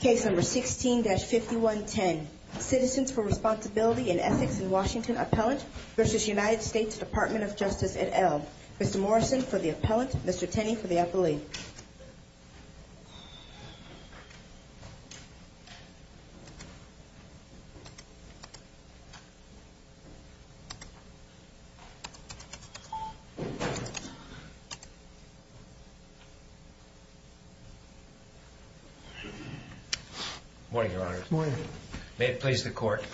Case number 16-5110, Citizens for Responsibility and Ethics in Washington Appellant v. United States Department of Justice et al. Mr. Morrison for the Appellant, Mr. Tenney for the Appellee. Morning, Your Honor. Morning. May it please the Court.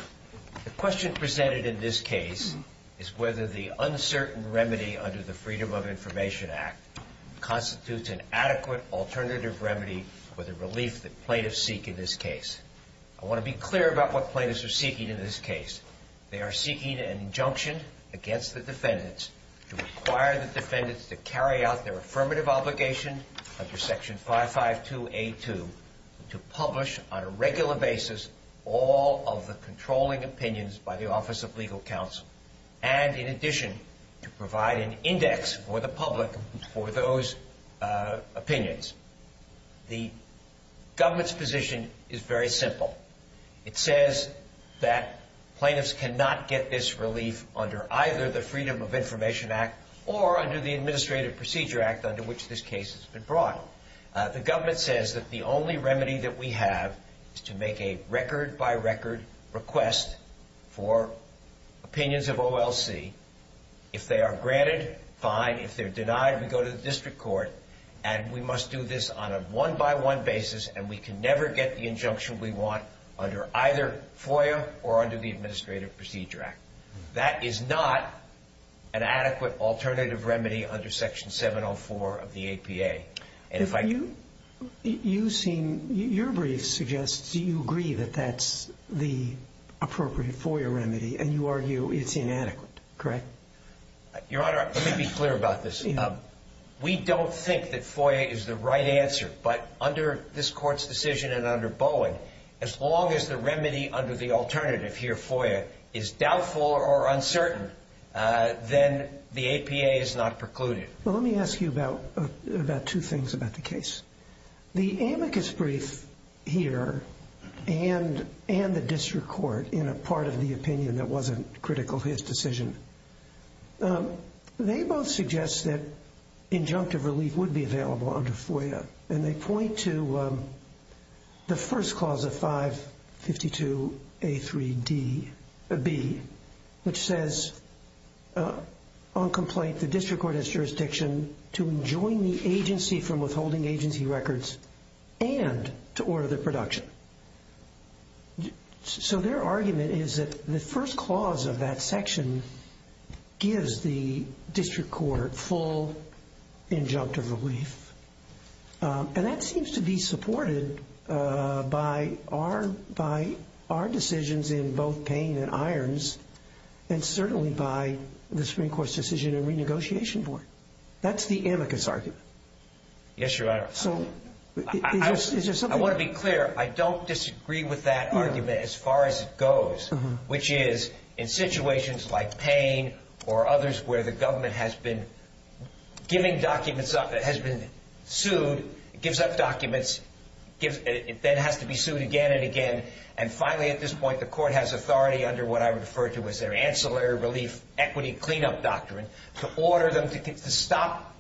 The question presented in this case is whether the uncertain remedy under the Freedom of Information Act constitutes an adequate alternative remedy for the relief that plaintiffs seek in this case. I want to be clear about what plaintiffs are seeking in this case. They are seeking an injunction against the defendants to require the defendants to carry out their affirmative obligation under Section 552A2 to publish on a regular basis all of the controlling opinions by the Office of Legal Counsel and, in addition, to provide an index for the public for those opinions. The government's position is very simple. It says that plaintiffs cannot get this relief under either the Freedom of Information Act or under the Administrative Procedure Act under which this case has been brought. The government says that the only remedy that we have is to make a record-by-record request for opinions of OLC. If they are granted, fine. If they're denied, we go to the district court, and we must do this on a one-by-one basis, and we can never get the injunction we want under either FOIA or under the Administrative Procedure Act. That is not an adequate alternative remedy under Section 704 of the APA. And if I can... If you... you seem... your brief suggests you agree that that's the appropriate FOIA remedy, and you argue it's inadequate, correct? Your Honor, let me be clear about this. We don't think that FOIA is the right answer, but under this Court's decision and under Boeing, as long as the remedy under the alternative here, FOIA, is doubtful or uncertain, then the APA is not precluded. Well, let me ask you about two things about the case. The amicus brief here and the district court in a part of the opinion that wasn't critical to his decision, they both suggest that injunctive relief would be available under FOIA. And they point to the first clause of 552A3B, which says, on complaint, the district court has jurisdiction to enjoin the agency from withholding agency records and to order their production. So their argument is that the first clause of that section gives the district court full injunctive relief, and that seems to be supported by our decisions in both Payne and Irons, and certainly by the Supreme Court's decision in renegotiation board. That's the amicus argument. Yes, Your Honor. So, is there something... I want to be clear. I don't disagree with that argument as far as it goes, which is, in situations like Payne or others where the government has been giving documents up, has been sued, gives up documents, then has to be sued again and again, and finally, at this point, the court has authority under what I refer to as their ancillary relief equity cleanup doctrine to order them to stop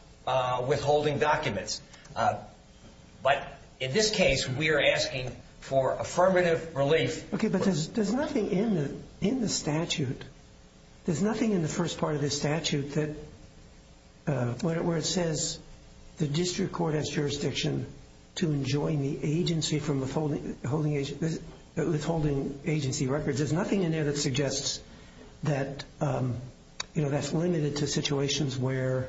withholding documents. But in this case, we are asking for affirmative relief. Okay, but there's nothing in the statute. There's nothing in the first part of the statute where it says the district court has jurisdiction to enjoin the agency from withholding agency records. There's nothing in there that suggests that that's limited to situations where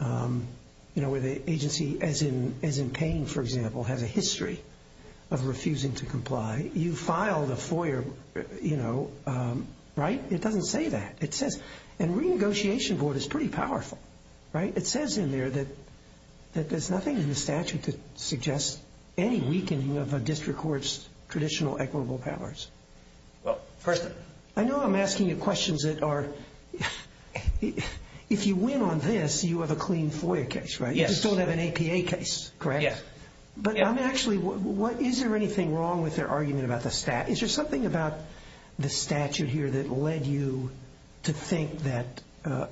the agency, as in Payne, for example, has a history of refusing to comply. You filed a FOIA, right? It doesn't say that. It says... And renegotiation board is pretty powerful, right? It says in there that there's nothing in the statute that suggests any weakening of a district court's traditional equitable powers. Well, first... I know I'm asking you questions that are... If you win on this, you have a clean FOIA case, right? Yes. You just don't have an APA case, correct? Yes. But actually, is there anything wrong with their argument about the statute? Is there something about the statute here that led you to think that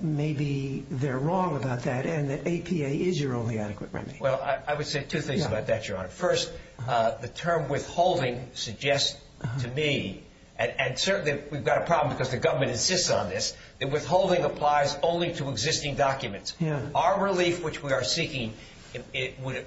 maybe they're wrong about that and that APA is your only adequate remedy? Well, I would say two things about that, Your Honor. First, the term withholding suggests to me, and certainly we've got a problem because the government insists on this, that withholding applies only to existing documents. Our relief, which we are seeking, would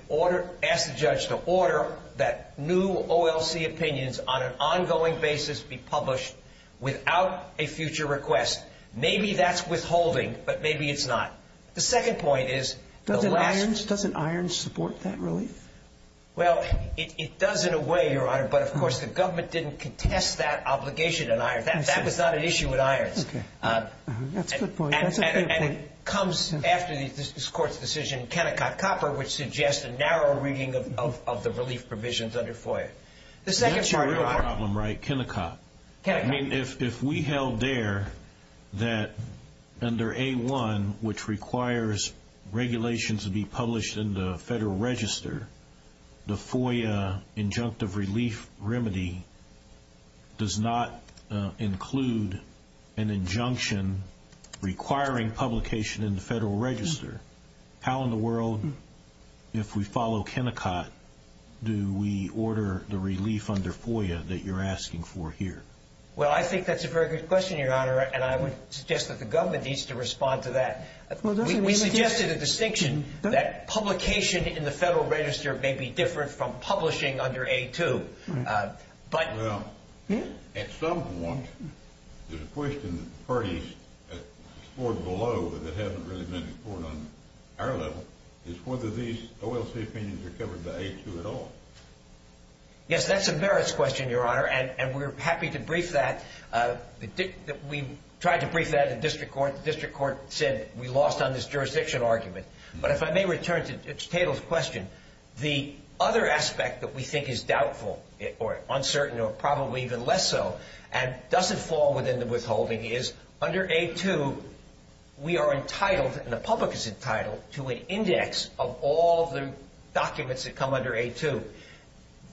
ask the judge to order that new OLC opinions on an ongoing basis be published without a future request. Maybe that's withholding, but maybe it's not. The second point is... Doesn't IRNS support that relief? Well, it does in a way, Your Honor, but, of course, the government didn't contest that obligation in IRNS. That was not an issue with IRNS. Okay. That's a good point. And it comes after this Court's decision, Kennecott-Copper, which suggests a narrow reading of the relief provisions under FOIA. That's a real problem, right, Kennecott? Kennecott. If we held there that under A-1, which requires regulations to be published in the Federal Register, the FOIA injunctive relief remedy does not include an injunction requiring publication in the Federal Register, how in the world, if we follow Kennecott, do we order the relief under FOIA that you're asking for here? Well, I think that's a very good question, Your Honor, and I would suggest that the government needs to respond to that. We suggested a distinction that publication in the Federal Register may be different from publishing under A-2. Well, at some point, there's a question that the parties scored below that hasn't really been scored on our level, is whether these OLC opinions are covered by A-2 at all. Yes, that's a merits question, Your Honor, and we're happy to brief that. We tried to brief that at the District Court. The District Court said we lost on this jurisdiction argument. But if I may return to the table's question, the other aspect that we think is doubtful or uncertain or probably even less so and doesn't fall within the withholding is under A-2, we are entitled and the public is entitled to an index of all the documents that come under A-2.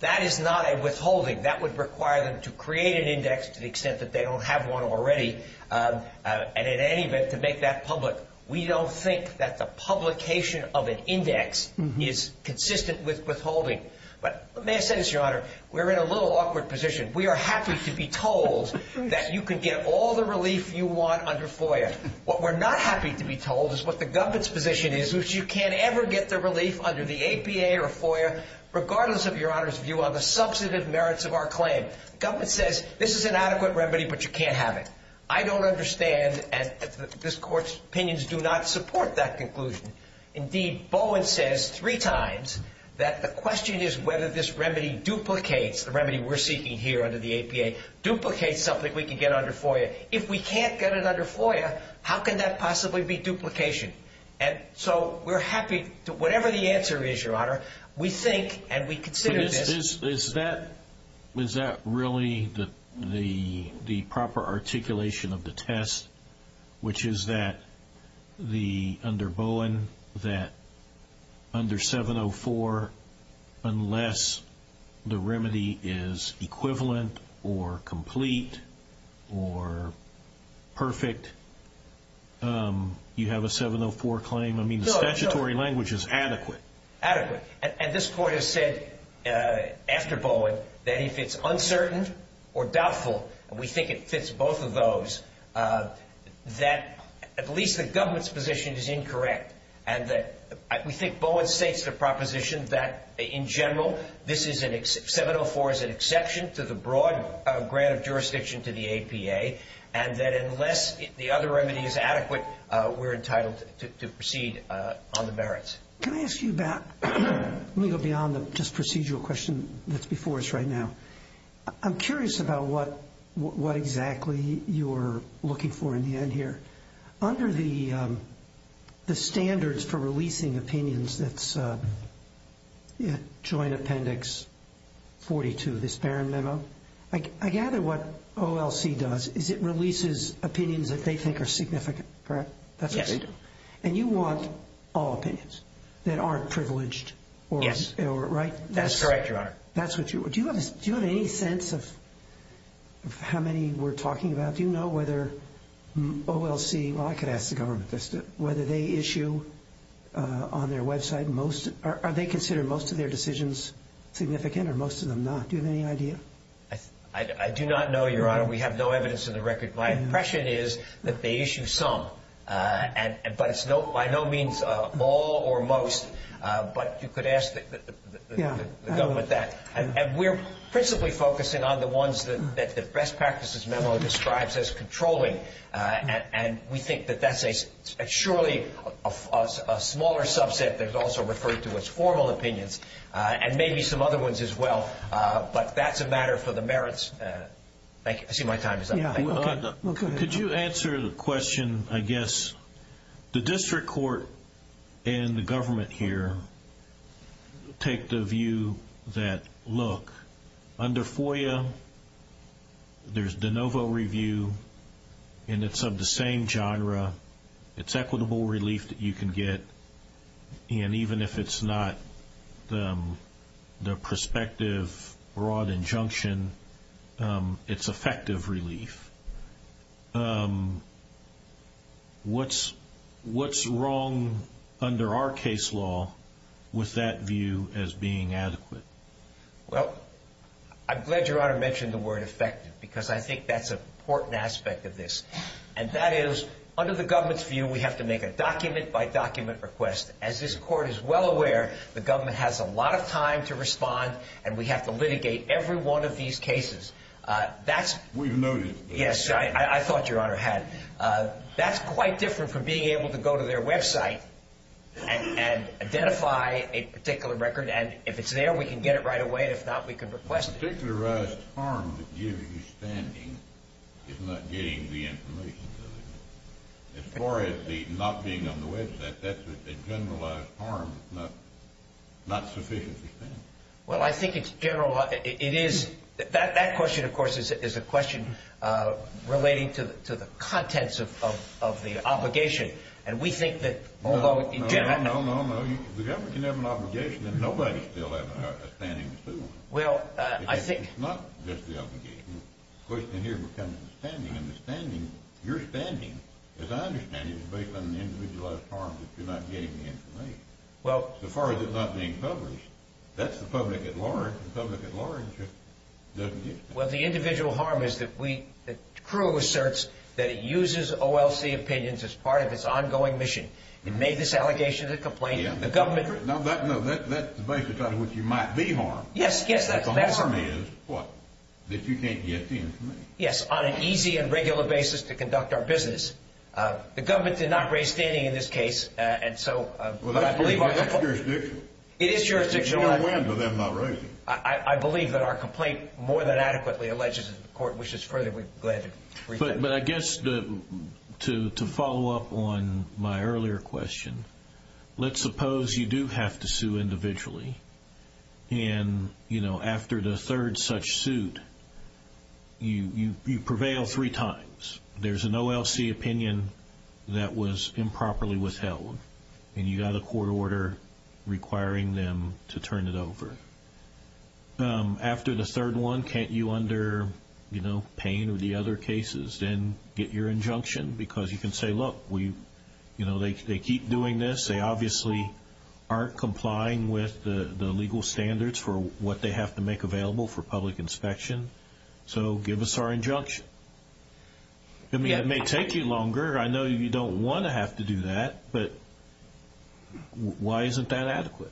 That is not a withholding. That would require them to create an index to the extent that they don't have one already, and in any event, to make that public. We don't think that the publication of an index is consistent with withholding. But may I say this, Your Honor, we're in a little awkward position. We are happy to be told that you can get all the relief you want under FOIA. What we're not happy to be told is what the government's position is, which you can't ever get the relief under the APA or FOIA, regardless of Your Honor's view on the substantive merits of our claim. The government says this is an adequate remedy, but you can't have it. I don't understand, and this Court's opinions do not support that conclusion. Indeed, Bowen says three times that the question is whether this remedy duplicates the remedy we're seeking here under the APA, duplicates something we can get under FOIA. If we can't get it under FOIA, how can that possibly be duplication? And so we're happy to whatever the answer is, Your Honor, we think and we consider this. Is that really the proper articulation of the test, which is that under Bowen, that under 704, unless the remedy is equivalent or complete or perfect, you have a 704 claim? I mean, the statutory language is adequate. Adequate. And this Court has said after Bowen that if it's uncertain or doubtful, and we think it fits both of those, that at least the government's position is incorrect. And we think Bowen states the proposition that, in general, 704 is an exception to the broad grant of jurisdiction to the APA, and that unless the other remedy is adequate, we're entitled to proceed on the merits. Can I ask you about – let me go beyond the just procedural question that's before us right now. I'm curious about what exactly you're looking for in the end here. Under the standards for releasing opinions that's Joint Appendix 42, this Barron memo, I gather what OLC does is it releases opinions that they think are significant, correct? Yes, they do. And you want all opinions that aren't privileged or – Yes. Right? That's correct, Your Honor. That's what you – do you have any sense of how many we're talking about? Do you know whether OLC – well, I could ask the government this – whether they issue on their website most – are they considered most of their decisions significant or most of them not? Do you have any idea? I do not know, Your Honor. We have no evidence in the record. My impression is that they issue some, but it's by no means all or most, but you could ask the government that. And we're principally focusing on the ones that the best practices memo describes as controlling, and we think that that's surely a smaller subset that's also referred to as formal opinions and maybe some other ones as well, but that's a matter for the merits. Thank you. I see my time is up. Could you answer the question, I guess, the district court and the government here take the view that, look, under FOIA, there's de novo review, and it's of the same genre. It's equitable relief that you can get, and even if it's not the prospective broad injunction, it's effective relief. What's wrong under our case law with that view as being adequate? Well, I'm glad Your Honor mentioned the word effective because I think that's an important aspect of this, and that is under the government's view, we have to make a document-by-document request. As this court is well aware, the government has a lot of time to respond, and we have to litigate every one of these cases. We've noticed this. Yes, I thought Your Honor had. That's quite different from being able to go to their website and identify a particular record, and if it's there, we can get it right away, and if not, we can request it. The particularized harm that gives you standing is not getting the information to the government. As far as the not being on the website, that's a generalized harm, not sufficiently standing. Well, I think it's generalized. It is. That question, of course, is a question relating to the contents of the obligation, and we think that although in general. No, no, no, no. The government can have an obligation, and nobody still has a standing to sue them. Well, I think. It's not just the obligation. The question here becomes the standing, and the standing, your standing, as I understand it, is based on the individualized harm that you're not getting the information. Well. As far as it not being published, that's the public at large. The public at large just doesn't use it. Well, the individual harm is that we, the crew asserts that it uses OLC opinions as part of its ongoing mission. It made this allegation as a complaint. The government. No, that's the basis on which you might be harmed. Yes, yes, that's. The harm is what? That you can't get the information. Yes, on an easy and regular basis to conduct our business. The government did not raise standing in this case, and so. Well, that's jurisdictional. It is jurisdictional. We don't win to them not raising it. I believe that our complaint more than adequately alleges that the court wishes further. We're glad to reject it. But I guess to follow up on my earlier question, let's suppose you do have to sue individually, and, you know, after the third such suit, you prevail three times. There's an OLC opinion that was improperly withheld, and you got a court order requiring them to turn it over. After the third one, can't you, under, you know, pain or the other cases, then get your injunction? Because you can say, look, we, you know, they keep doing this. They obviously aren't complying with the legal standards for what they have to make available for public inspection. So give us our injunction. I mean, it may take you longer. I know you don't want to have to do that, but why isn't that adequate?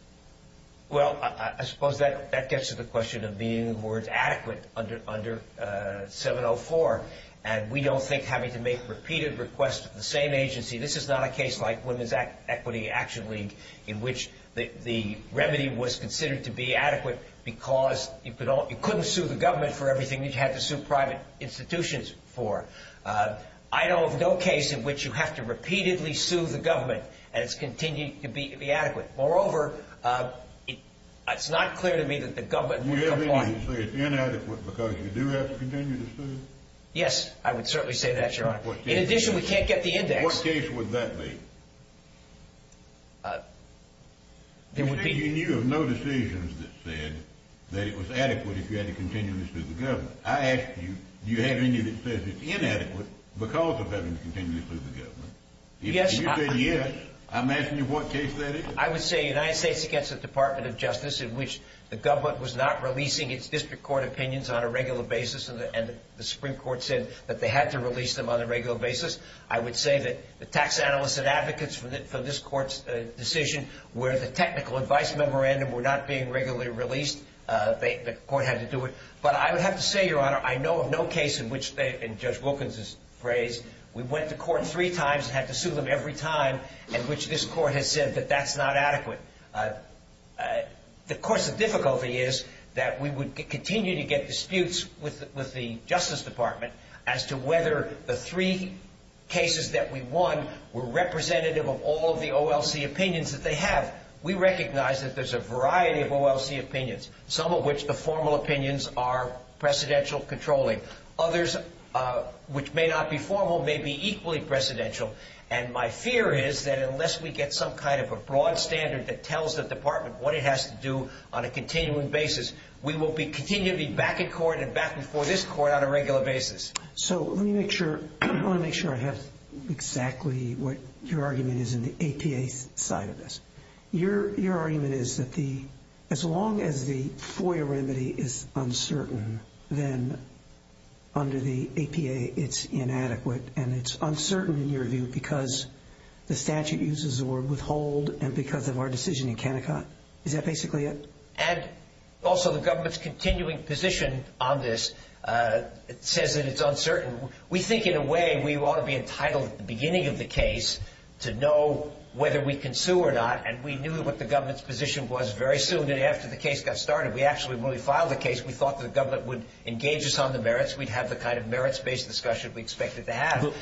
Well, I suppose that gets to the question of being, in other words, adequate under 704. And we don't think having to make repeated requests of the same agency, this is not a case like Women's Equity Action League in which the remedy was considered to be adequate because you couldn't sue the government for everything you'd have to sue private institutions for. I know of no case in which you have to repeatedly sue the government, and it's continued to be adequate. Moreover, it's not clear to me that the government would comply. You're saying it's inadequate because you do have to continue to sue? Yes, I would certainly say that, Your Honor. In addition, we can't get the index. What case would that be? You're saying you knew of no decisions that said that it was adequate if you had to continue to sue the government. I ask you, do you have any that says it's inadequate because of having to continue to sue the government? If you say yes, I'm asking you what case that is. I would say United States against the Department of Justice, in which the government was not releasing its district court opinions on a regular basis, and the Supreme Court said that they had to release them on a regular basis. I would say that the tax analysts and advocates for this court's decision, where the technical advice memorandum were not being regularly released, the court had to do it. But I would have to say, Your Honor, I know of no case in which, in Judge Wilkins' phrase, we went to court three times and had to sue them every time, in which this court has said that that's not adequate. Of course, the difficulty is that we would continue to get disputes with the Justice Department as to whether the three cases that we won were representative of all of the OLC opinions that they have. We recognize that there's a variety of OLC opinions, some of which the formal opinions are precedential controlling. Others, which may not be formal, may be equally precedential. And my fear is that unless we get some kind of a broad standard that tells the department what it has to do on a continuing basis, we will continue to be back in court and back before this court on a regular basis. So let me make sure I have exactly what your argument is in the APA side of this. Your argument is that as long as the FOIA remedy is uncertain, then under the APA it's inadequate, and it's uncertain in your view because the statute uses the word withhold and because of our decision in Kennecott. Is that basically it? And also the government's continuing position on this says that it's uncertain. We think in a way we ought to be entitled at the beginning of the case to know whether we can sue or not, and we knew what the government's position was very soon after the case got started. We actually, when we filed the case, we thought the government would engage us on the merits. We'd have the kind of merits-based discussion we expected to have.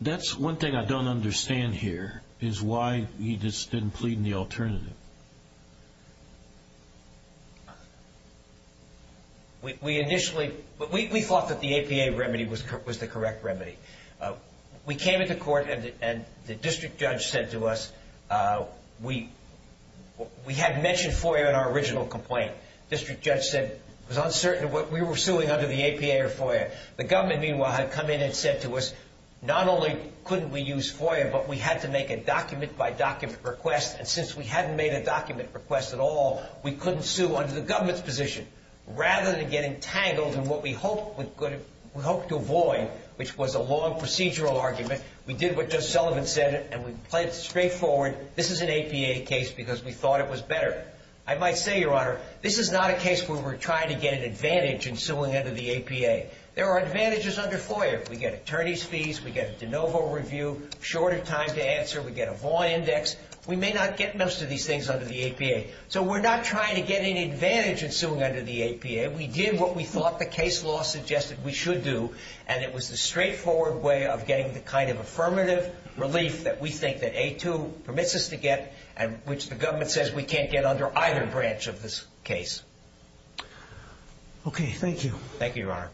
That's one thing I don't understand here is why you just didn't plead in the alternative. We initially thought that the APA remedy was the correct remedy. We came into court and the district judge said to us we had mentioned FOIA in our original complaint. The district judge said it was uncertain whether we were suing under the APA or FOIA. The government, meanwhile, had come in and said to us not only couldn't we use FOIA, but we had to make a document-by-document request, and since we hadn't made a document request at all, we couldn't sue under the government's position. Rather than getting tangled in what we hoped to avoid, which was a long procedural argument, we did what Judge Sullivan said and we played it straightforward. This is an APA case because we thought it was better. I might say, Your Honor, this is not a case where we're trying to get an advantage in suing under the APA. There are advantages under FOIA. We get attorney's fees, we get a de novo review, shorter time to answer, we get a Vaughn index. We may not get most of these things under the APA. So we're not trying to get an advantage in suing under the APA. We did what we thought the case law suggested we should do, and it was the straightforward way of getting the kind of affirmative relief that we think that A2 permits us to get and which the government says we can't get under either branch of this case. Okay, thank you. Thank you, Your Honor.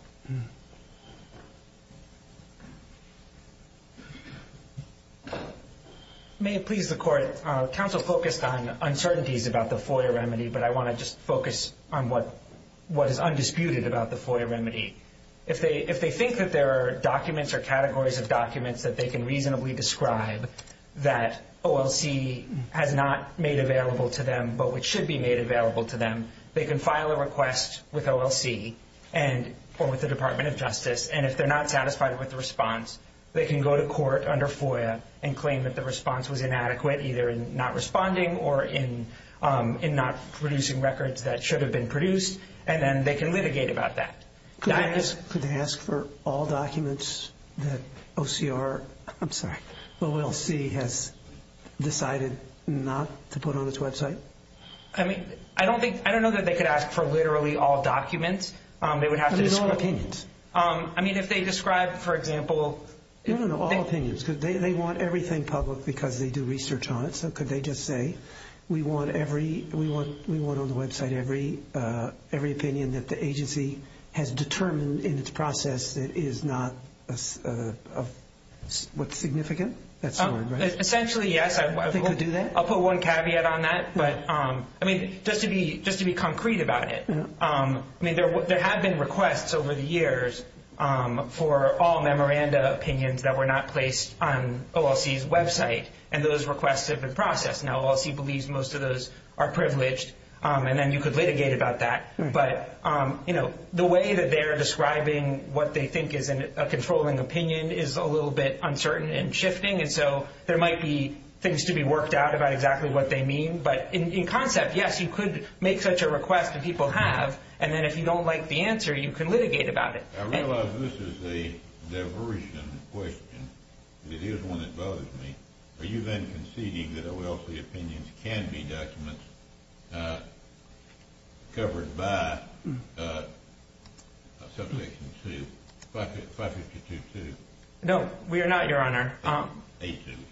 May it please the Court, counsel focused on uncertainties about the FOIA remedy, but I want to just focus on what is undisputed about the FOIA remedy. If they think that there are documents or categories of documents that they can reasonably describe that OLC has not made available to them but which should be made available to them, they can file a request with OLC or with the Department of Justice, and if they're not satisfied with the response, they can go to court under FOIA and claim that the response was inadequate, either in not responding or in not producing records that should have been produced, and then they can litigate about that. Could they ask for all documents that OCR, I'm sorry, OLC has decided not to put on its website? I don't know that they could ask for literally all documents. There's all opinions. I mean, if they describe, for example... No, no, no, all opinions. They want everything public because they do research on it, so could they just say we want on the website every opinion that the agency has determined in its process that is not what's significant? Essentially, yes. They could do that? I'll put one caveat on that, but just to be concrete about it, there have been requests over the years for all memoranda opinions that were not placed on OLC's website, and those requests have been processed. Now, OLC believes most of those are privileged, and then you could litigate about that, but the way that they're describing what they think is a controlling opinion is a little bit uncertain and shifting, and so there might be things to be worked out about exactly what they mean, but in concept, yes, you could make such a request that people have, and then if you don't like the answer, you can litigate about it. I realize this is a diversion question, but it is one that bothers me. Are you then conceding that OLC opinions can be documents covered by Subsection 2, 552.2? No, we are not, Your Honor.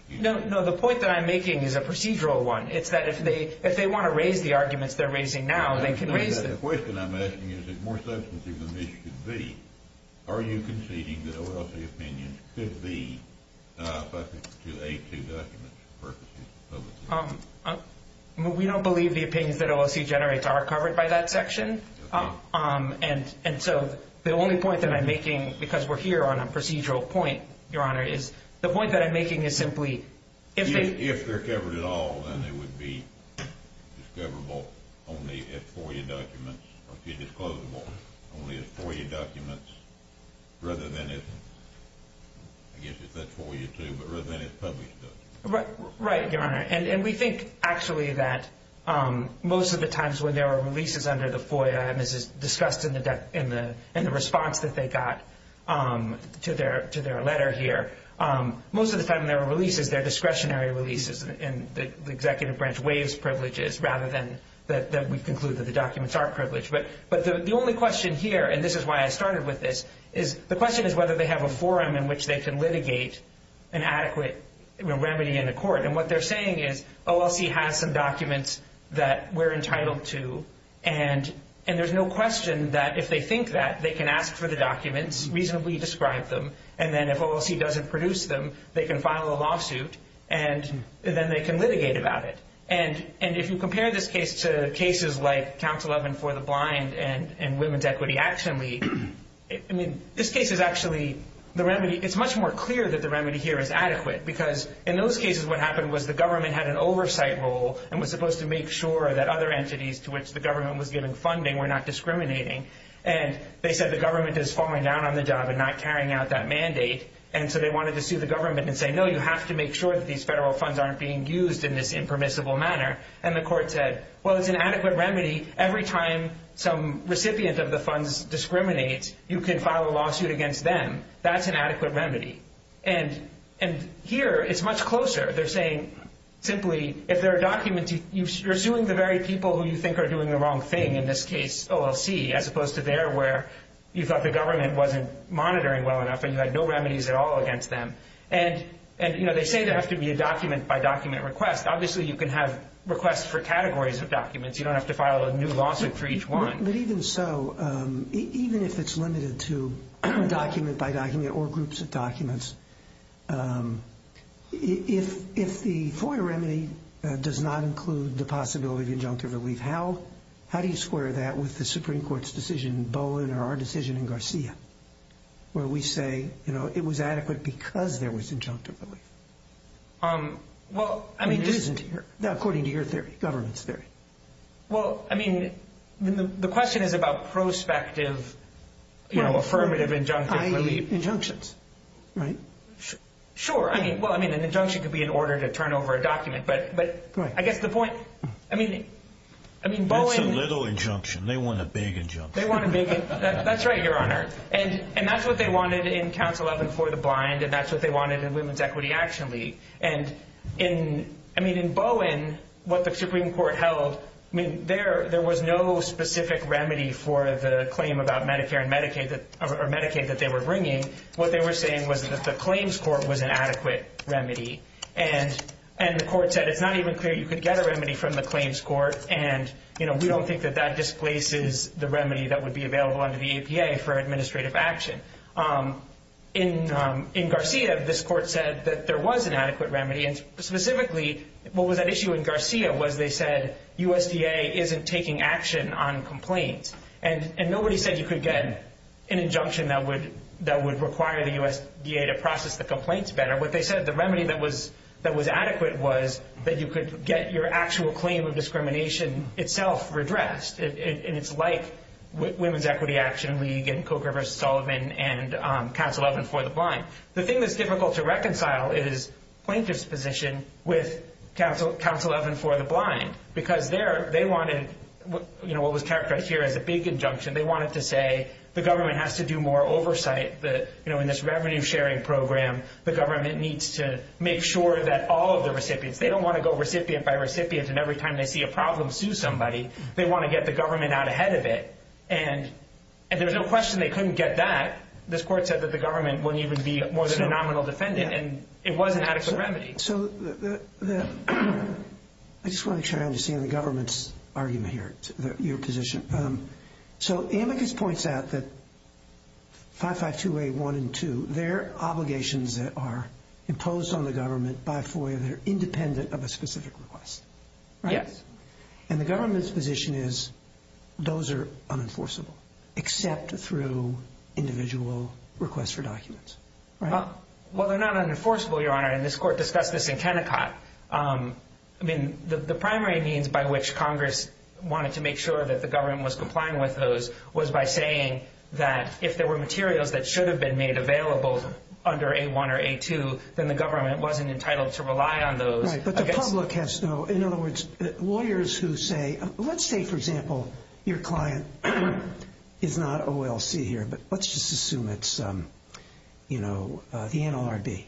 No, the point that I'm making is a procedural one. It's that if they want to raise the arguments they're raising now, they can raise them. The question I'm asking you is more substantive than this should be. Are you conceding that OLC opinions could be subject to A2 documents for purposes of public opinion? We don't believe the opinions that OLC generates are covered by that section, and so the only point that I'm making, because we're here on a procedural point, Your Honor, is the point that I'm making is simply if they're covered at all, then they would be discoverable only as FOIA documents, or if you disclose them all, only as FOIA documents rather than as, I guess if that's FOIA too, but rather than as published documents. Right, Your Honor, and we think actually that most of the times when there are releases under the FOIA, and this is discussed in the response that they got to their letter here, most of the time when there are releases, they're discretionary releases, and the executive branch waives privileges rather than that we conclude that the documents are privileged. But the only question here, and this is why I started with this, is the question is whether they have a forum in which they can litigate an adequate remedy in the court, and what they're saying is OLC has some documents that we're entitled to, and there's no question that if they think that, they can ask for the documents, reasonably describe them, and then if OLC doesn't produce them, they can file a lawsuit, and then they can litigate about it. And if you compare this case to cases like Council 11 for the Blind and Women's Equity Action League, I mean, this case is actually, the remedy, it's much more clear that the remedy here is adequate, because in those cases what happened was the government had an oversight role and was supposed to make sure that other entities to which the government was giving funding were not discriminating, and they said the government is falling down on the job and not carrying out that mandate, and so they wanted to sue the government and say, no, you have to make sure that these federal funds aren't being used in this impermissible manner, and the court said, well, it's an adequate remedy. Every time some recipient of the funds discriminates, you can file a lawsuit against them. That's an adequate remedy. And here it's much closer. They're saying simply if there are documents, you're suing the very people who you think are doing the wrong thing, in this case OLC, as opposed to there where you thought the government wasn't monitoring well enough and you had no remedies at all against them. And, you know, they say there has to be a document-by-document request. Obviously you can have requests for categories of documents. You don't have to file a new lawsuit for each one. But even so, even if it's limited to document-by-document or groups of documents, if the FOIA remedy does not include the possibility of injunctive relief, how do you square that with the Supreme Court's decision in Bowen or our decision in Garcia, where we say, you know, it was adequate because there was injunctive relief? It isn't here, according to your theory, government's theory. Well, I mean, the question is about prospective, you know, affirmative injunctive relief. I.e. injunctions, right? Sure. Well, I mean, an injunction could be an order to turn over a document. But I guess the point, I mean, Bowen... It's a little injunction. They want a big injunction. They want a big injunction. That's right, Your Honor. And that's what they wanted in Council 11 for the Blind, and that's what they wanted in Women's Equity Action League. And, I mean, in Bowen, what the Supreme Court held, I mean, there was no specific remedy for the claim about Medicare and Medicaid that they were bringing. What they were saying was that the claims court was an adequate remedy. And the court said it's not even clear you could get a remedy from the claims court, and we don't think that that displaces the remedy that would be available under the APA for administrative action. In Garcia, this court said that there was an adequate remedy, and specifically what was at issue in Garcia was they said USDA isn't taking action on complaints. And nobody said you could get an injunction that would require the USDA to process the complaints better. What they said, the remedy that was adequate was that you could get your actual claim of discrimination itself redressed, and it's like Women's Equity Action League and Coker v. Sullivan and Council 11 for the Blind. The thing that's difficult to reconcile is plaintiff's position with Council 11 for the Blind because they wanted what was characterized here as a big injunction. They wanted to say the government has to do more oversight. You know, in this revenue-sharing program, the government needs to make sure that all of the recipients, they don't want to go recipient by recipient, and every time they see a problem, sue somebody. They want to get the government out ahead of it. And there was no question they couldn't get that. This court said that the government wouldn't even be more than a nominal defendant, and it was an adequate remedy. So I just want to turn around to see the government's argument here, your position. So Amicus points out that 552A1 and 2, they're obligations that are imposed on the government by FOIA. They're independent of a specific request, right? Yes. And the government's position is those are unenforceable except through individual requests for documents, right? Well, they're not unenforceable, Your Honor, and this court discussed this in Kennecott. I mean, the primary means by which Congress wanted to make sure that the government was complying with those was by saying that if there were materials that should have been made available under A1 or A2, then the government wasn't entitled to rely on those. Right, but the public has no, in other words, lawyers who say, let's say, for example, your client is not OLC here, but let's just assume it's, you know, the NLRB.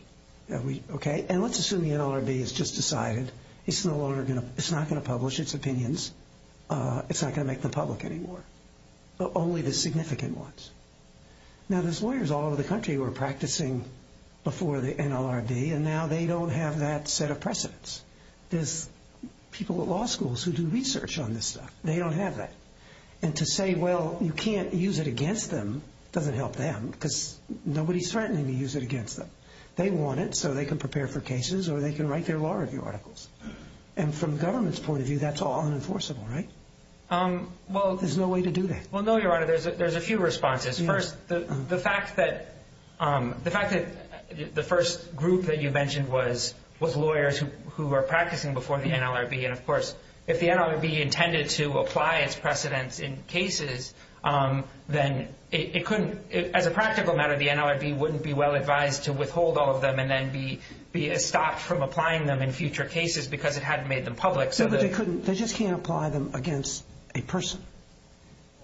Okay? And let's assume the NLRB has just decided it's no longer going to, it's not going to publish its opinions, it's not going to make them public anymore, but only the significant ones. Now, there's lawyers all over the country who are practicing before the NLRB, and now they don't have that set of precedents. There's people at law schools who do research on this stuff. They don't have that. And to say, well, you can't use it against them doesn't help them because nobody's threatening to use it against them. They want it so they can prepare for cases or they can write their law review articles. And from the government's point of view, that's all unenforceable, right? Well, there's no way to do that. Well, no, Your Honor, there's a few responses. First, the fact that the first group that you mentioned was lawyers who were practicing before the NLRB, and, of course, if the NLRB intended to apply its precedents in cases, then it couldn't, as a practical matter, the NLRB wouldn't be well advised to withhold all of them and then be stopped from applying them in future cases because it hadn't made them public. No, but they couldn't. They just can't apply them against a person.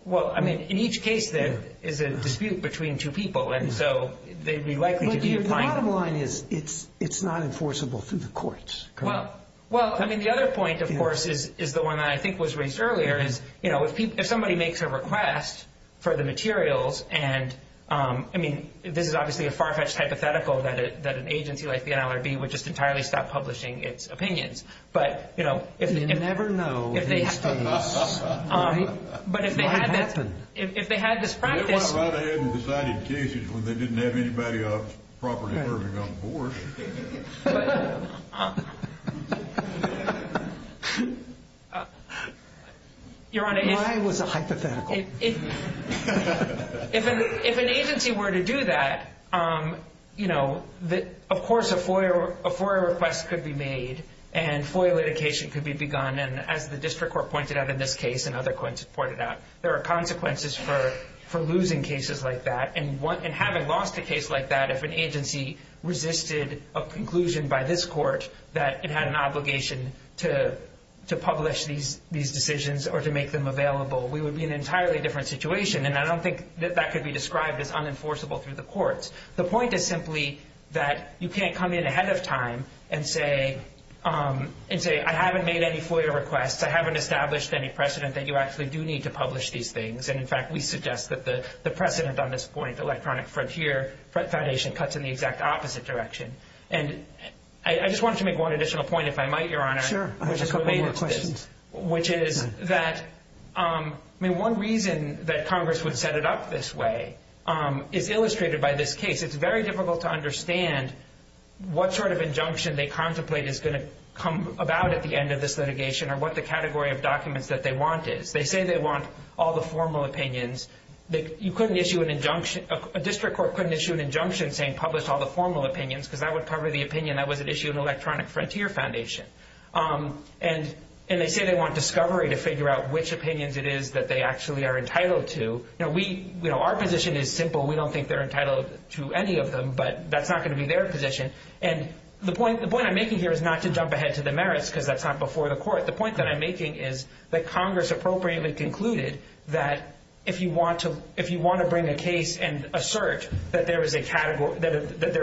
Well, I mean, in each case there is a dispute between two people, and so they'd be likely to be applying. But the bottom line is it's not enforceable through the courts. Well, I mean, the other point, of course, is the one that I think was raised earlier, is, you know, if somebody makes a request for the materials and, I mean, this is obviously a far-fetched hypothetical that an agency like the NLRB would just entirely stop publishing its opinions, but, you know, if they had this practice. They went right ahead and decided cases when they didn't have anybody else properly serving on the board. Why was it hypothetical? If an agency were to do that, you know, of course a FOIA request could be made and FOIA litigation could be begun, and as the district court pointed out in this case and other courts have pointed out, there are consequences for losing cases like that. And having lost a case like that, if an agency resisted a conclusion by this court that it had an obligation to publish these decisions or to make them available, we would be in an entirely different situation, and I don't think that that could be described as unenforceable through the courts. The point is simply that you can't come in ahead of time and say, I haven't made any FOIA requests, I haven't established any precedent that you actually do need to publish these things, and, in fact, we suggest that the precedent on this point, the Electronic Frontier Foundation, cuts in the exact opposite direction. And I just wanted to make one additional point, if I might, Your Honor. Sure. I have a couple more questions. Which is that, I mean, one reason that Congress would set it up this way is illustrated by this case. It's very difficult to understand what sort of injunction they contemplate is going to come about at the end of this litigation or what the category of documents that they want is. They say they want all the formal opinions. You couldn't issue an injunction, a district court couldn't issue an injunction saying publish all the formal opinions because that would cover the opinion that was at issue in Electronic Frontier Foundation. And they say they want discovery to figure out which opinions it is that they actually are entitled to. Now, our position is simple. We don't think they're entitled to any of them, but that's not going to be their position. And the point I'm making here is not to jump ahead to the merits because that's not before the court. The point that I'm making is that Congress appropriately concluded that if you want to bring a case and assert that there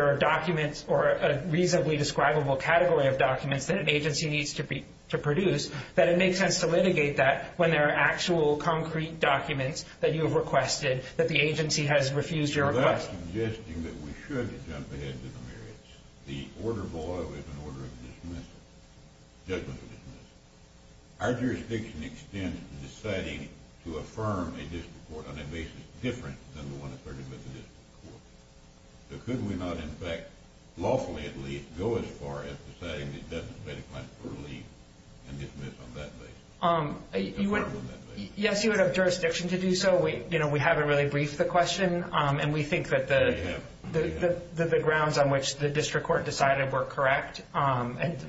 are documents or a reasonably describable category of documents that an agency needs to produce, that it makes sense to litigate that when there are actual concrete documents that you have requested that the agency has refused your request. So that's suggesting that we should jump ahead to the merits. The order of oil is an order of dismissal, judgment of dismissal. Our jurisdiction extends to deciding to affirm a district court on a basis different than the one asserted by the district court. So could we not, in fact, lawfully at least, go as far as deciding that it doesn't make a claim for relief and dismiss on that basis? Affirm on that basis. Yes, you would have jurisdiction to do so. We haven't really briefed the question, and we think that the grounds on which the district court decided were correct.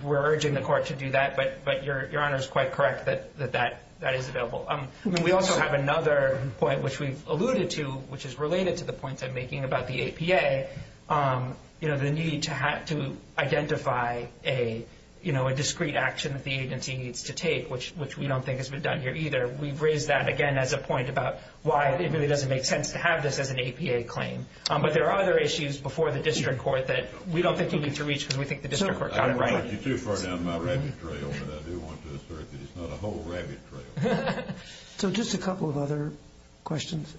We're urging the court to do that, but Your Honor is quite correct that that is available. We also have another point, which we've alluded to, which is related to the points I'm making about the APA, the need to identify a discrete action that the agency needs to take, which we don't think has been done here either. We've raised that, again, as a point about why it really doesn't make sense to have this as an APA claim. But there are other issues before the district court that we don't think you need to reach because we think the district court got it right. I don't want to get you too far down my rabbit trail, but I do want to assert that it's not a whole rabbit trail. So just a couple of other questions.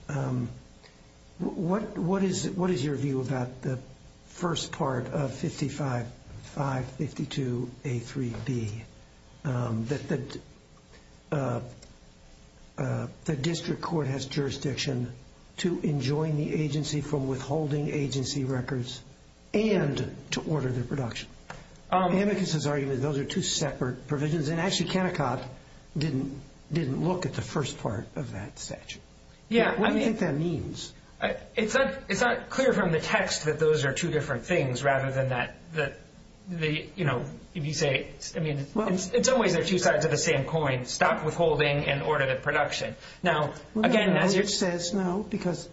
What is your view about the first part of 5552A3B, that the district court has jurisdiction to enjoin the agency from withholding agency records and to order their production? Amicus's argument is those are two separate provisions, and actually Kennecott didn't look at the first part of that statute. What do you think that means? It's not clear from the text that those are two different things rather than that, you know, if you say, I mean, in some ways they're two sides of the same coin, stop withholding and order the production. Now, again, as your... No, because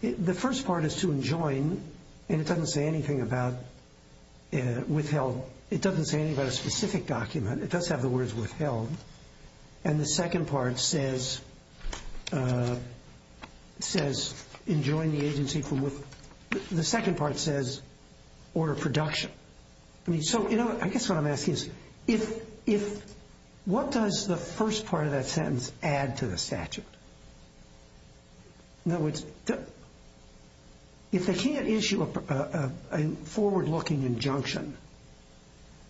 the first part is to enjoin, and it doesn't say anything about withheld. It doesn't say anything about a specific document. It does have the words withheld. And the second part says enjoin the agency from withholding. The second part says order production. I mean, so, you know, I guess what I'm asking is if... What does the first part of that sentence add to the statute? No, it's... If they can't issue a forward-looking injunction,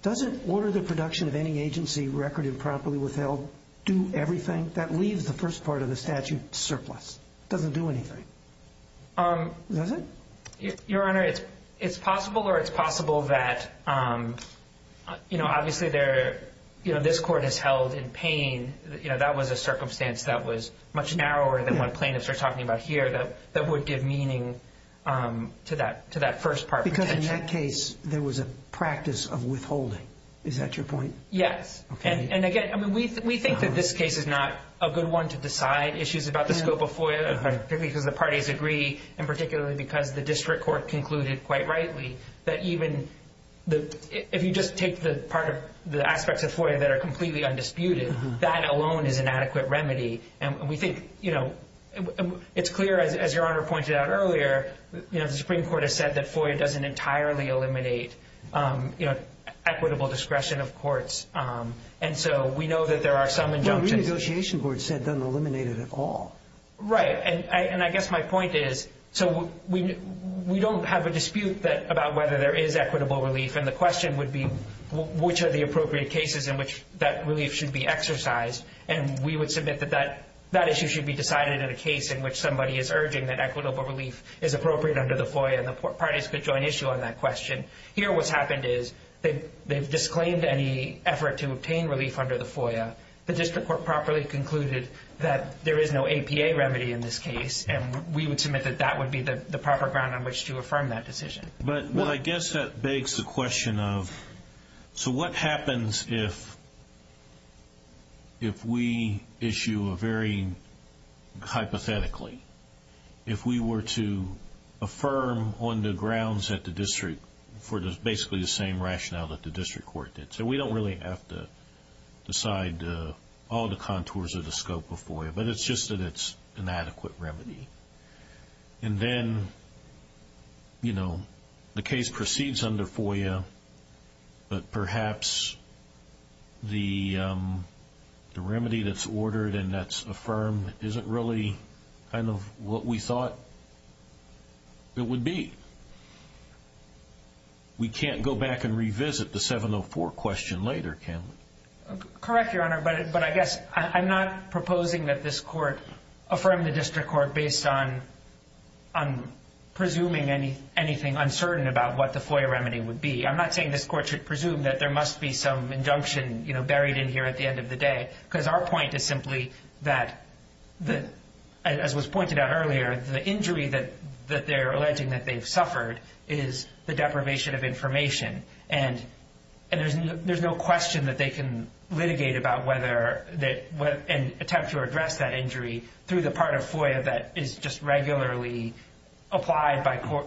doesn't order the production of any agency record improperly withheld do everything? That leaves the first part of the statute surplus. It doesn't do anything. Does it? Your Honor, it's possible or it's possible that, you know, obviously this court has held in pain, you know, that was a circumstance that was much narrower than what plaintiffs are talking about here that would give meaning to that first part. Because in that case there was a practice of withholding. Is that your point? Yes. Okay. And, again, I mean, we think that this case is not a good one to decide issues about the scope of FOIA, particularly because the parties agree and particularly because the district court concluded quite rightly that even if you just take the part of the aspects of FOIA that are completely undisputed, that alone is an adequate remedy. And we think, you know, it's clear, as Your Honor pointed out earlier, you know, the Supreme Court has said that FOIA doesn't entirely eliminate, you know, equitable discretion of courts. And so we know that there are some injunctions. Well, the renegotiation board said it doesn't eliminate it at all. Right. And I guess my point is, so we don't have a dispute about whether there is equitable relief, and the question would be which are the appropriate cases in which that relief should be exercised. And we would submit that that issue should be decided in a case in which somebody is urging that equitable relief is appropriate under the FOIA, and the parties could join issue on that question. Here what's happened is they've disclaimed any effort to obtain relief under the FOIA. The district court properly concluded that there is no APA remedy in this case, and we would submit that that would be the proper ground on which to affirm that decision. But I guess that begs the question of, so what happens if we issue a very hypothetically, if we were to affirm on the grounds that the district for basically the same rationale that the district court did? So we don't really have to decide all the contours of the scope of FOIA, but it's just that it's an adequate remedy. And then, you know, the case proceeds under FOIA, but perhaps the remedy that's ordered and that's affirmed isn't really kind of what we thought it would be. We can't go back and revisit the 704 question later, can we? Correct, Your Honor, but I guess I'm not proposing that this court affirm the district court based on presuming anything uncertain about what the FOIA remedy would be. I'm not saying this court should presume that there must be some injunction buried in here at the end of the day, because our point is simply that, as was pointed out earlier, the injury that they're alleging that they've suffered is the deprivation of information. And there's no question that they can litigate about whether and attempt to address that injury through the part of FOIA that is just regularly applied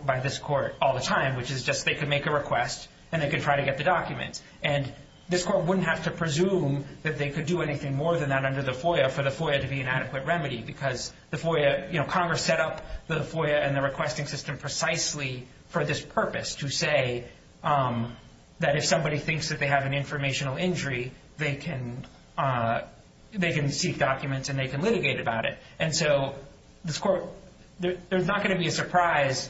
by this court all the time, which is just they can make a request and they can try to get the documents. And this court wouldn't have to presume that they could do anything more than that under the FOIA for the FOIA to be an adequate remedy, because the FOIA, you know, Congress set up the FOIA and the requesting system precisely for this purpose to say that if somebody thinks that they have an informational injury, they can seek documents and they can litigate about it. And so this court, there's not going to be a surprise,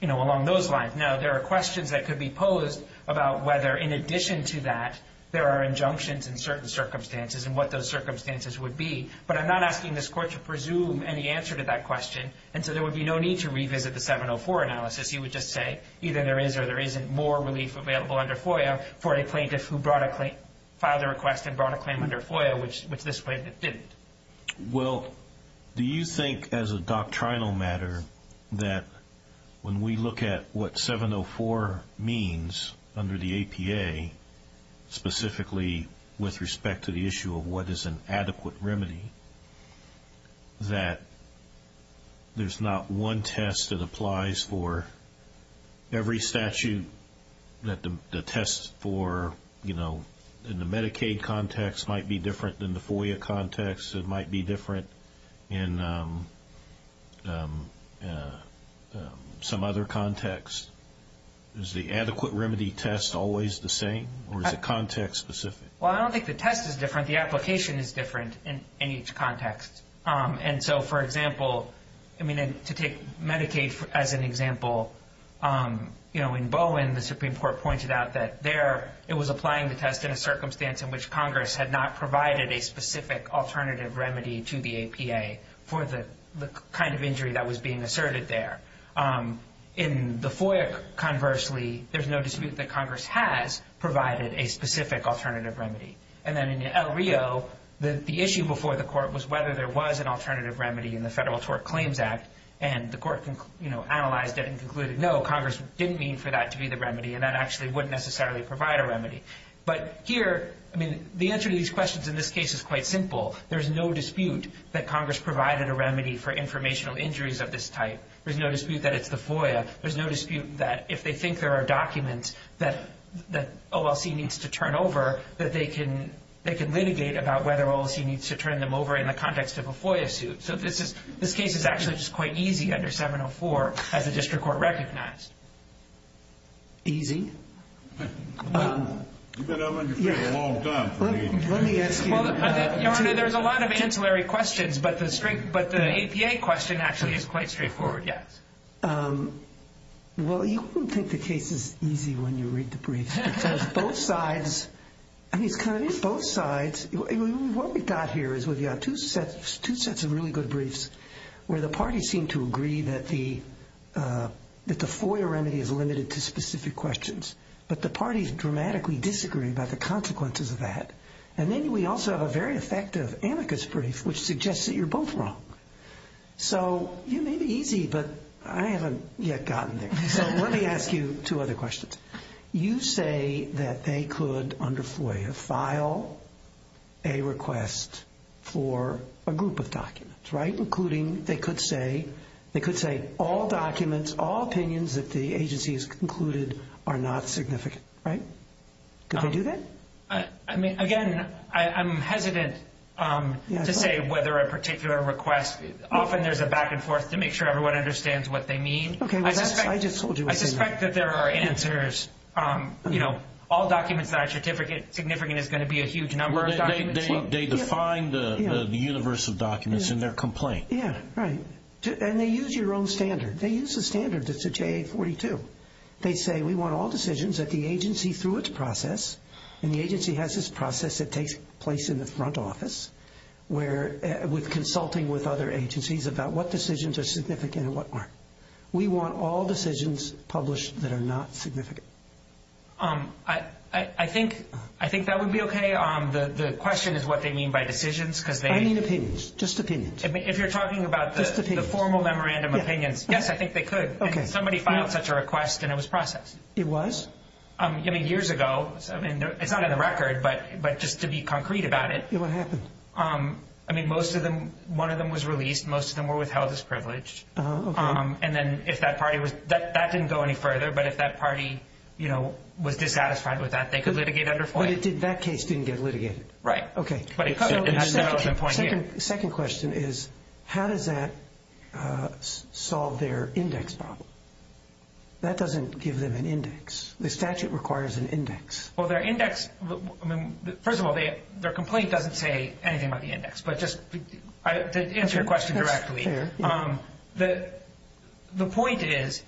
you know, along those lines. Now, there are questions that could be posed about whether, in addition to that, there are injunctions in certain circumstances and what those circumstances would be. But I'm not asking this court to presume any answer to that question. And so there would be no need to revisit the 704 analysis. You would just say either there is or there isn't more relief available under FOIA for a plaintiff who filed a request and brought a claim under FOIA, which this plaintiff didn't. Well, do you think as a doctrinal matter that when we look at what 704 means under the APA, specifically with respect to the issue of what is an adequate remedy, that there's not one test that applies for every statute that the test for, you know, in the Medicaid context might be different than the FOIA context. It might be different in some other context. Is the adequate remedy test always the same, or is it context-specific? Well, I don't think the test is different. The application is different in each context. And so, for example, I mean, to take Medicaid as an example, you know, in Bowen, the Supreme Court pointed out that there it was applying the test in a circumstance in which Congress had not provided a specific alternative remedy to the APA for the kind of injury that was being asserted there. In the FOIA, conversely, there's no dispute that Congress has provided a specific alternative remedy. And then in El Rio, the issue before the Court was whether there was an alternative remedy in the Federal Tort Claims Act, and the Court, you know, analyzed it and concluded, no, Congress didn't mean for that to be the remedy, and that actually wouldn't necessarily provide a remedy. But here, I mean, the answer to these questions in this case is quite simple. There's no dispute that Congress provided a remedy for informational injuries of this type. There's no dispute that it's the FOIA. There's no dispute that if they think there are documents that OLC needs to turn over, that they can litigate about whether OLC needs to turn them over in the context of a FOIA suit. So this case is actually just quite easy under 704 as the District Court recognized. Easy? You've been on your feet a long time. Let me ask you. There's a lot of ancillary questions, but the APA question actually is quite straightforward, yes. Well, you wouldn't think the case is easy when you read the brief because both sides, I mean, it's kind of both sides. What we've got here is we've got two sets of really good briefs where the parties seem to agree that the FOIA remedy is limited to specific questions, but the parties dramatically disagree about the consequences of that. And then we also have a very effective amicus brief which suggests that you're both wrong. So you may be easy, but I haven't yet gotten there. So let me ask you two other questions. You say that they could, under FOIA, file a request for a group of documents, right, including they could say all documents, all opinions that the agency has concluded are not significant, right? Could they do that? I mean, again, I'm hesitant to say whether a particular request, often there's a back and forth to make sure everyone understands what they mean. Okay. I just told you. I suspect that there are answers. You know, all documents that are significant is going to be a huge number of documents. They define the universe of documents in their complaint. Yeah, right. And they use your own standard. They use the standard that's at JA-42. They say we want all decisions that the agency, through its process, and the agency has this process that takes place in the front office, where we're consulting with other agencies about what decisions are significant and what aren't. We want all decisions published that are not significant. I think that would be okay. The question is what they mean by decisions because they need opinions. Just opinions. If you're talking about the formal memorandum opinions, yes, I think they could. Somebody filed such a request and it was processed. It was? I mean, years ago. It's not in the record, but just to be concrete about it. What happened? I mean, most of them, one of them was released. Most of them were withheld as privileged. And then if that party was, that didn't go any further, but if that party, you know, was dissatisfied with that, they could litigate under FOIA. But that case didn't get litigated. Right. Okay. The second question is how does that solve their index problem? That doesn't give them an index. The statute requires an index. Well, their index, first of all, their complaint doesn't say anything about the index. But just to answer your question directly, the point is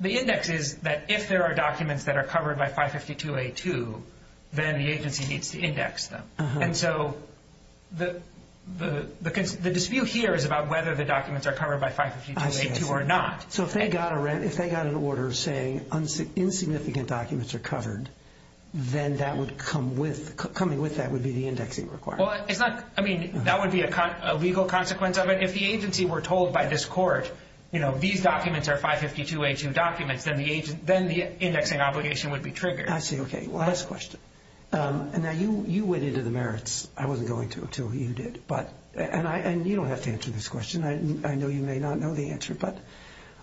the index is that if there are documents that are covered by 552A2, then the agency needs to index them. And so the dispute here is about whether the documents are covered by 552A2 or not. So if they got an order saying insignificant documents are covered, then that would come with, coming with that would be the indexing requirement. Well, it's not, I mean, that would be a legal consequence of it. If the agency were told by this court, you know, these documents are 552A2 documents, then the indexing obligation would be triggered. I see. Okay. Last question. Now, you went into the merits. I wasn't going to until you did. And you don't have to answer this question. I know you may not know the answer. But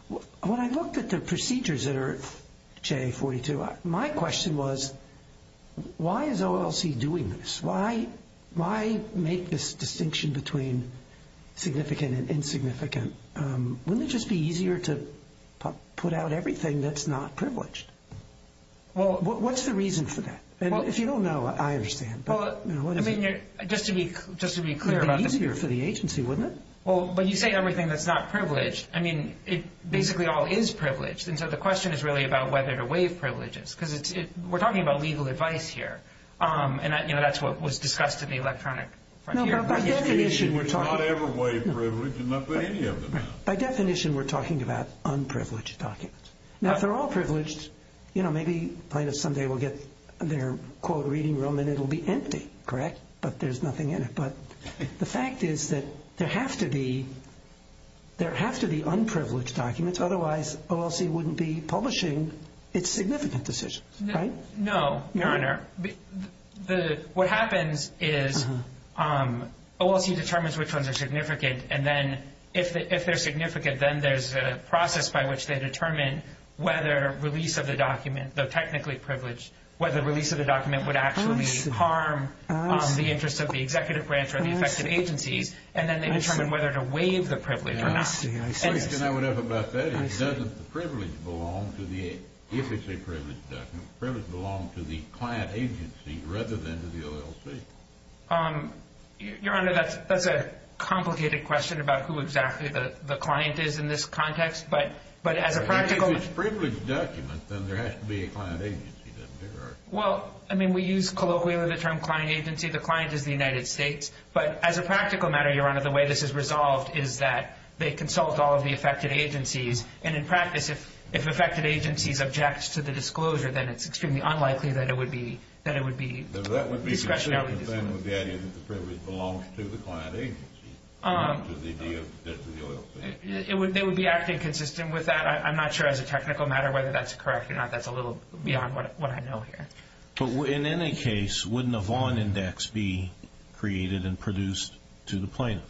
when I looked at the procedures that are in JA42, my question was why is OLC doing this? Why make this distinction between significant and insignificant? Wouldn't it just be easier to put out everything that's not privileged? Well, what's the reason for that? If you don't know, I understand. Just to be clear about this. It would be easier for the agency, wouldn't it? Well, but you say everything that's not privileged. I mean, it basically all is privileged. And so the question is really about whether to waive privileges. Because we're talking about legal advice here. And, you know, that's what was discussed at the electronic front here. By definition, we're talking about unprivileged documents. Now, if they're all privileged, you know, maybe plaintiffs someday will get their quote reading room and it will be empty, correct? But there's nothing in it. But the fact is that there have to be unprivileged documents. Otherwise, OLC wouldn't be publishing its significant decisions, right? No, Your Honor. What happens is OLC determines which ones are significant, and then if they're significant, then there's a process by which they determine whether release of the document, though technically privileged, whether release of the document would actually harm the interests of the executive branch or the affected agencies. And then they determine whether to waive the privilege or not. I would have about that. Doesn't the privilege belong to the, if it's a privileged document, privilege belong to the client agency rather than to the OLC? Your Honor, that's a complicated question about who exactly the client is in this context. But as a practical... If it's a privileged document, then there has to be a client agency, doesn't there? Well, I mean, we use colloquially the term client agency. The client is the United States. But as a practical matter, Your Honor, the way this is resolved is that they consult all of the affected agencies. And in practice, if affected agencies object to the disclosure, then it's extremely unlikely that it would be discretionary. That would be consistent with the idea that the privilege belongs to the client agency rather than to the OLC. They would be acting consistent with that. I'm not sure as a technical matter whether that's correct or not. That's a little beyond what I know here. But in any case, wouldn't a Vaughn Index be created and produced to the plaintiff?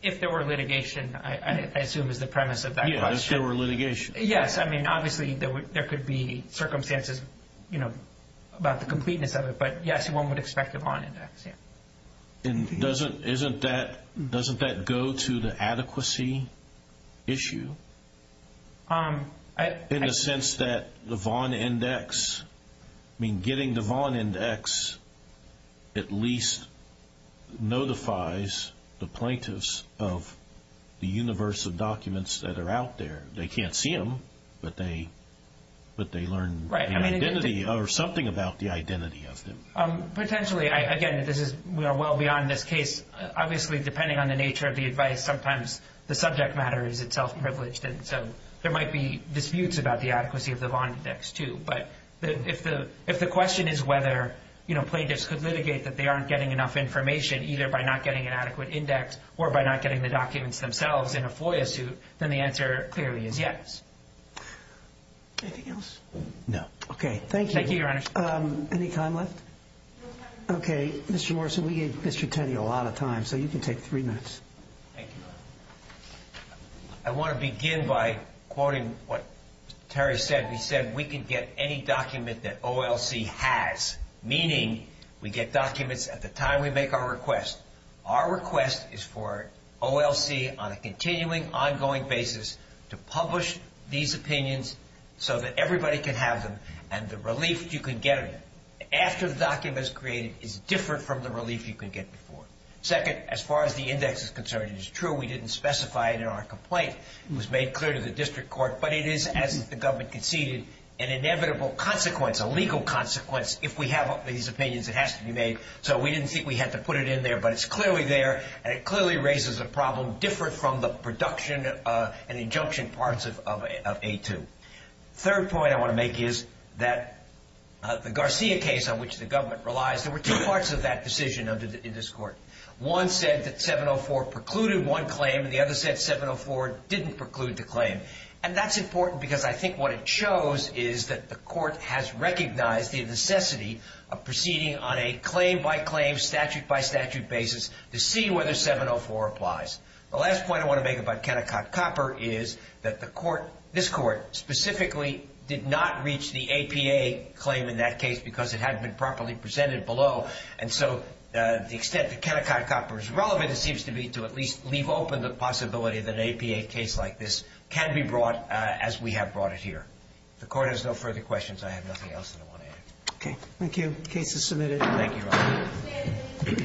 If there were litigation, I assume is the premise of that question. Yes, if there were litigation. Yes, I mean, obviously there could be circumstances, you know, about the completeness of it. But, yes, one would expect a Vaughn Index, yes. And doesn't that go to the adequacy issue? In the sense that the Vaughn Index, I mean, getting the Vaughn Index at least notifies the plaintiffs of the universe of documents that are out there. They can't see them, but they learn the identity or something about the identity of them. Potentially. Again, we are well beyond this case. Obviously, depending on the nature of the advice, sometimes the subject matter is itself privileged. And so there might be disputes about the adequacy of the Vaughn Index, too. But if the question is whether plaintiffs could litigate that they aren't getting enough information either by not getting an adequate index or by not getting the documents themselves in a FOIA suit, then the answer clearly is yes. No. Okay, thank you. Thank you, Your Honor. Any time left? Okay, Mr. Morrison, we gave Mr. Teddy a lot of time, so you can take three minutes. Thank you. I want to begin by quoting what Terry said. He said, we can get any document that OLC has, meaning we get documents at the time we make our request. Our request is for OLC on a continuing, ongoing basis to publish these opinions so that everybody can have them and the relief you can get after the document is created is different from the relief you could get before. Second, as far as the index is concerned, it is true we didn't specify it in our complaint. It was made clear to the district court. But it is, as the government conceded, an inevitable consequence, a legal consequence. If we have these opinions, it has to be made. So we didn't think we had to put it in there, but it's clearly there, and it clearly raises a problem different from the production and injunction parts of A2. Third point I want to make is that the Garcia case on which the government relies, there were two parts of that decision in this court. One said that 704 precluded one claim, and the other said 704 didn't preclude the claim. And that's important because I think what it shows is that the court has recognized the necessity of proceeding on a claim-by-claim, statute-by-statute basis to see whether 704 applies. The last point I want to make about Kennecott Copper is that the court, this court, specifically did not reach the APA claim in that case because it hadn't been properly presented below. And so the extent that Kennecott Copper is relevant, it seems to me, to at least leave open the possibility that an APA case like this can be brought as we have brought it here. If the court has no further questions, I have nothing else that I want to add. Okay. Thank you. Case is submitted. Thank you, Robert.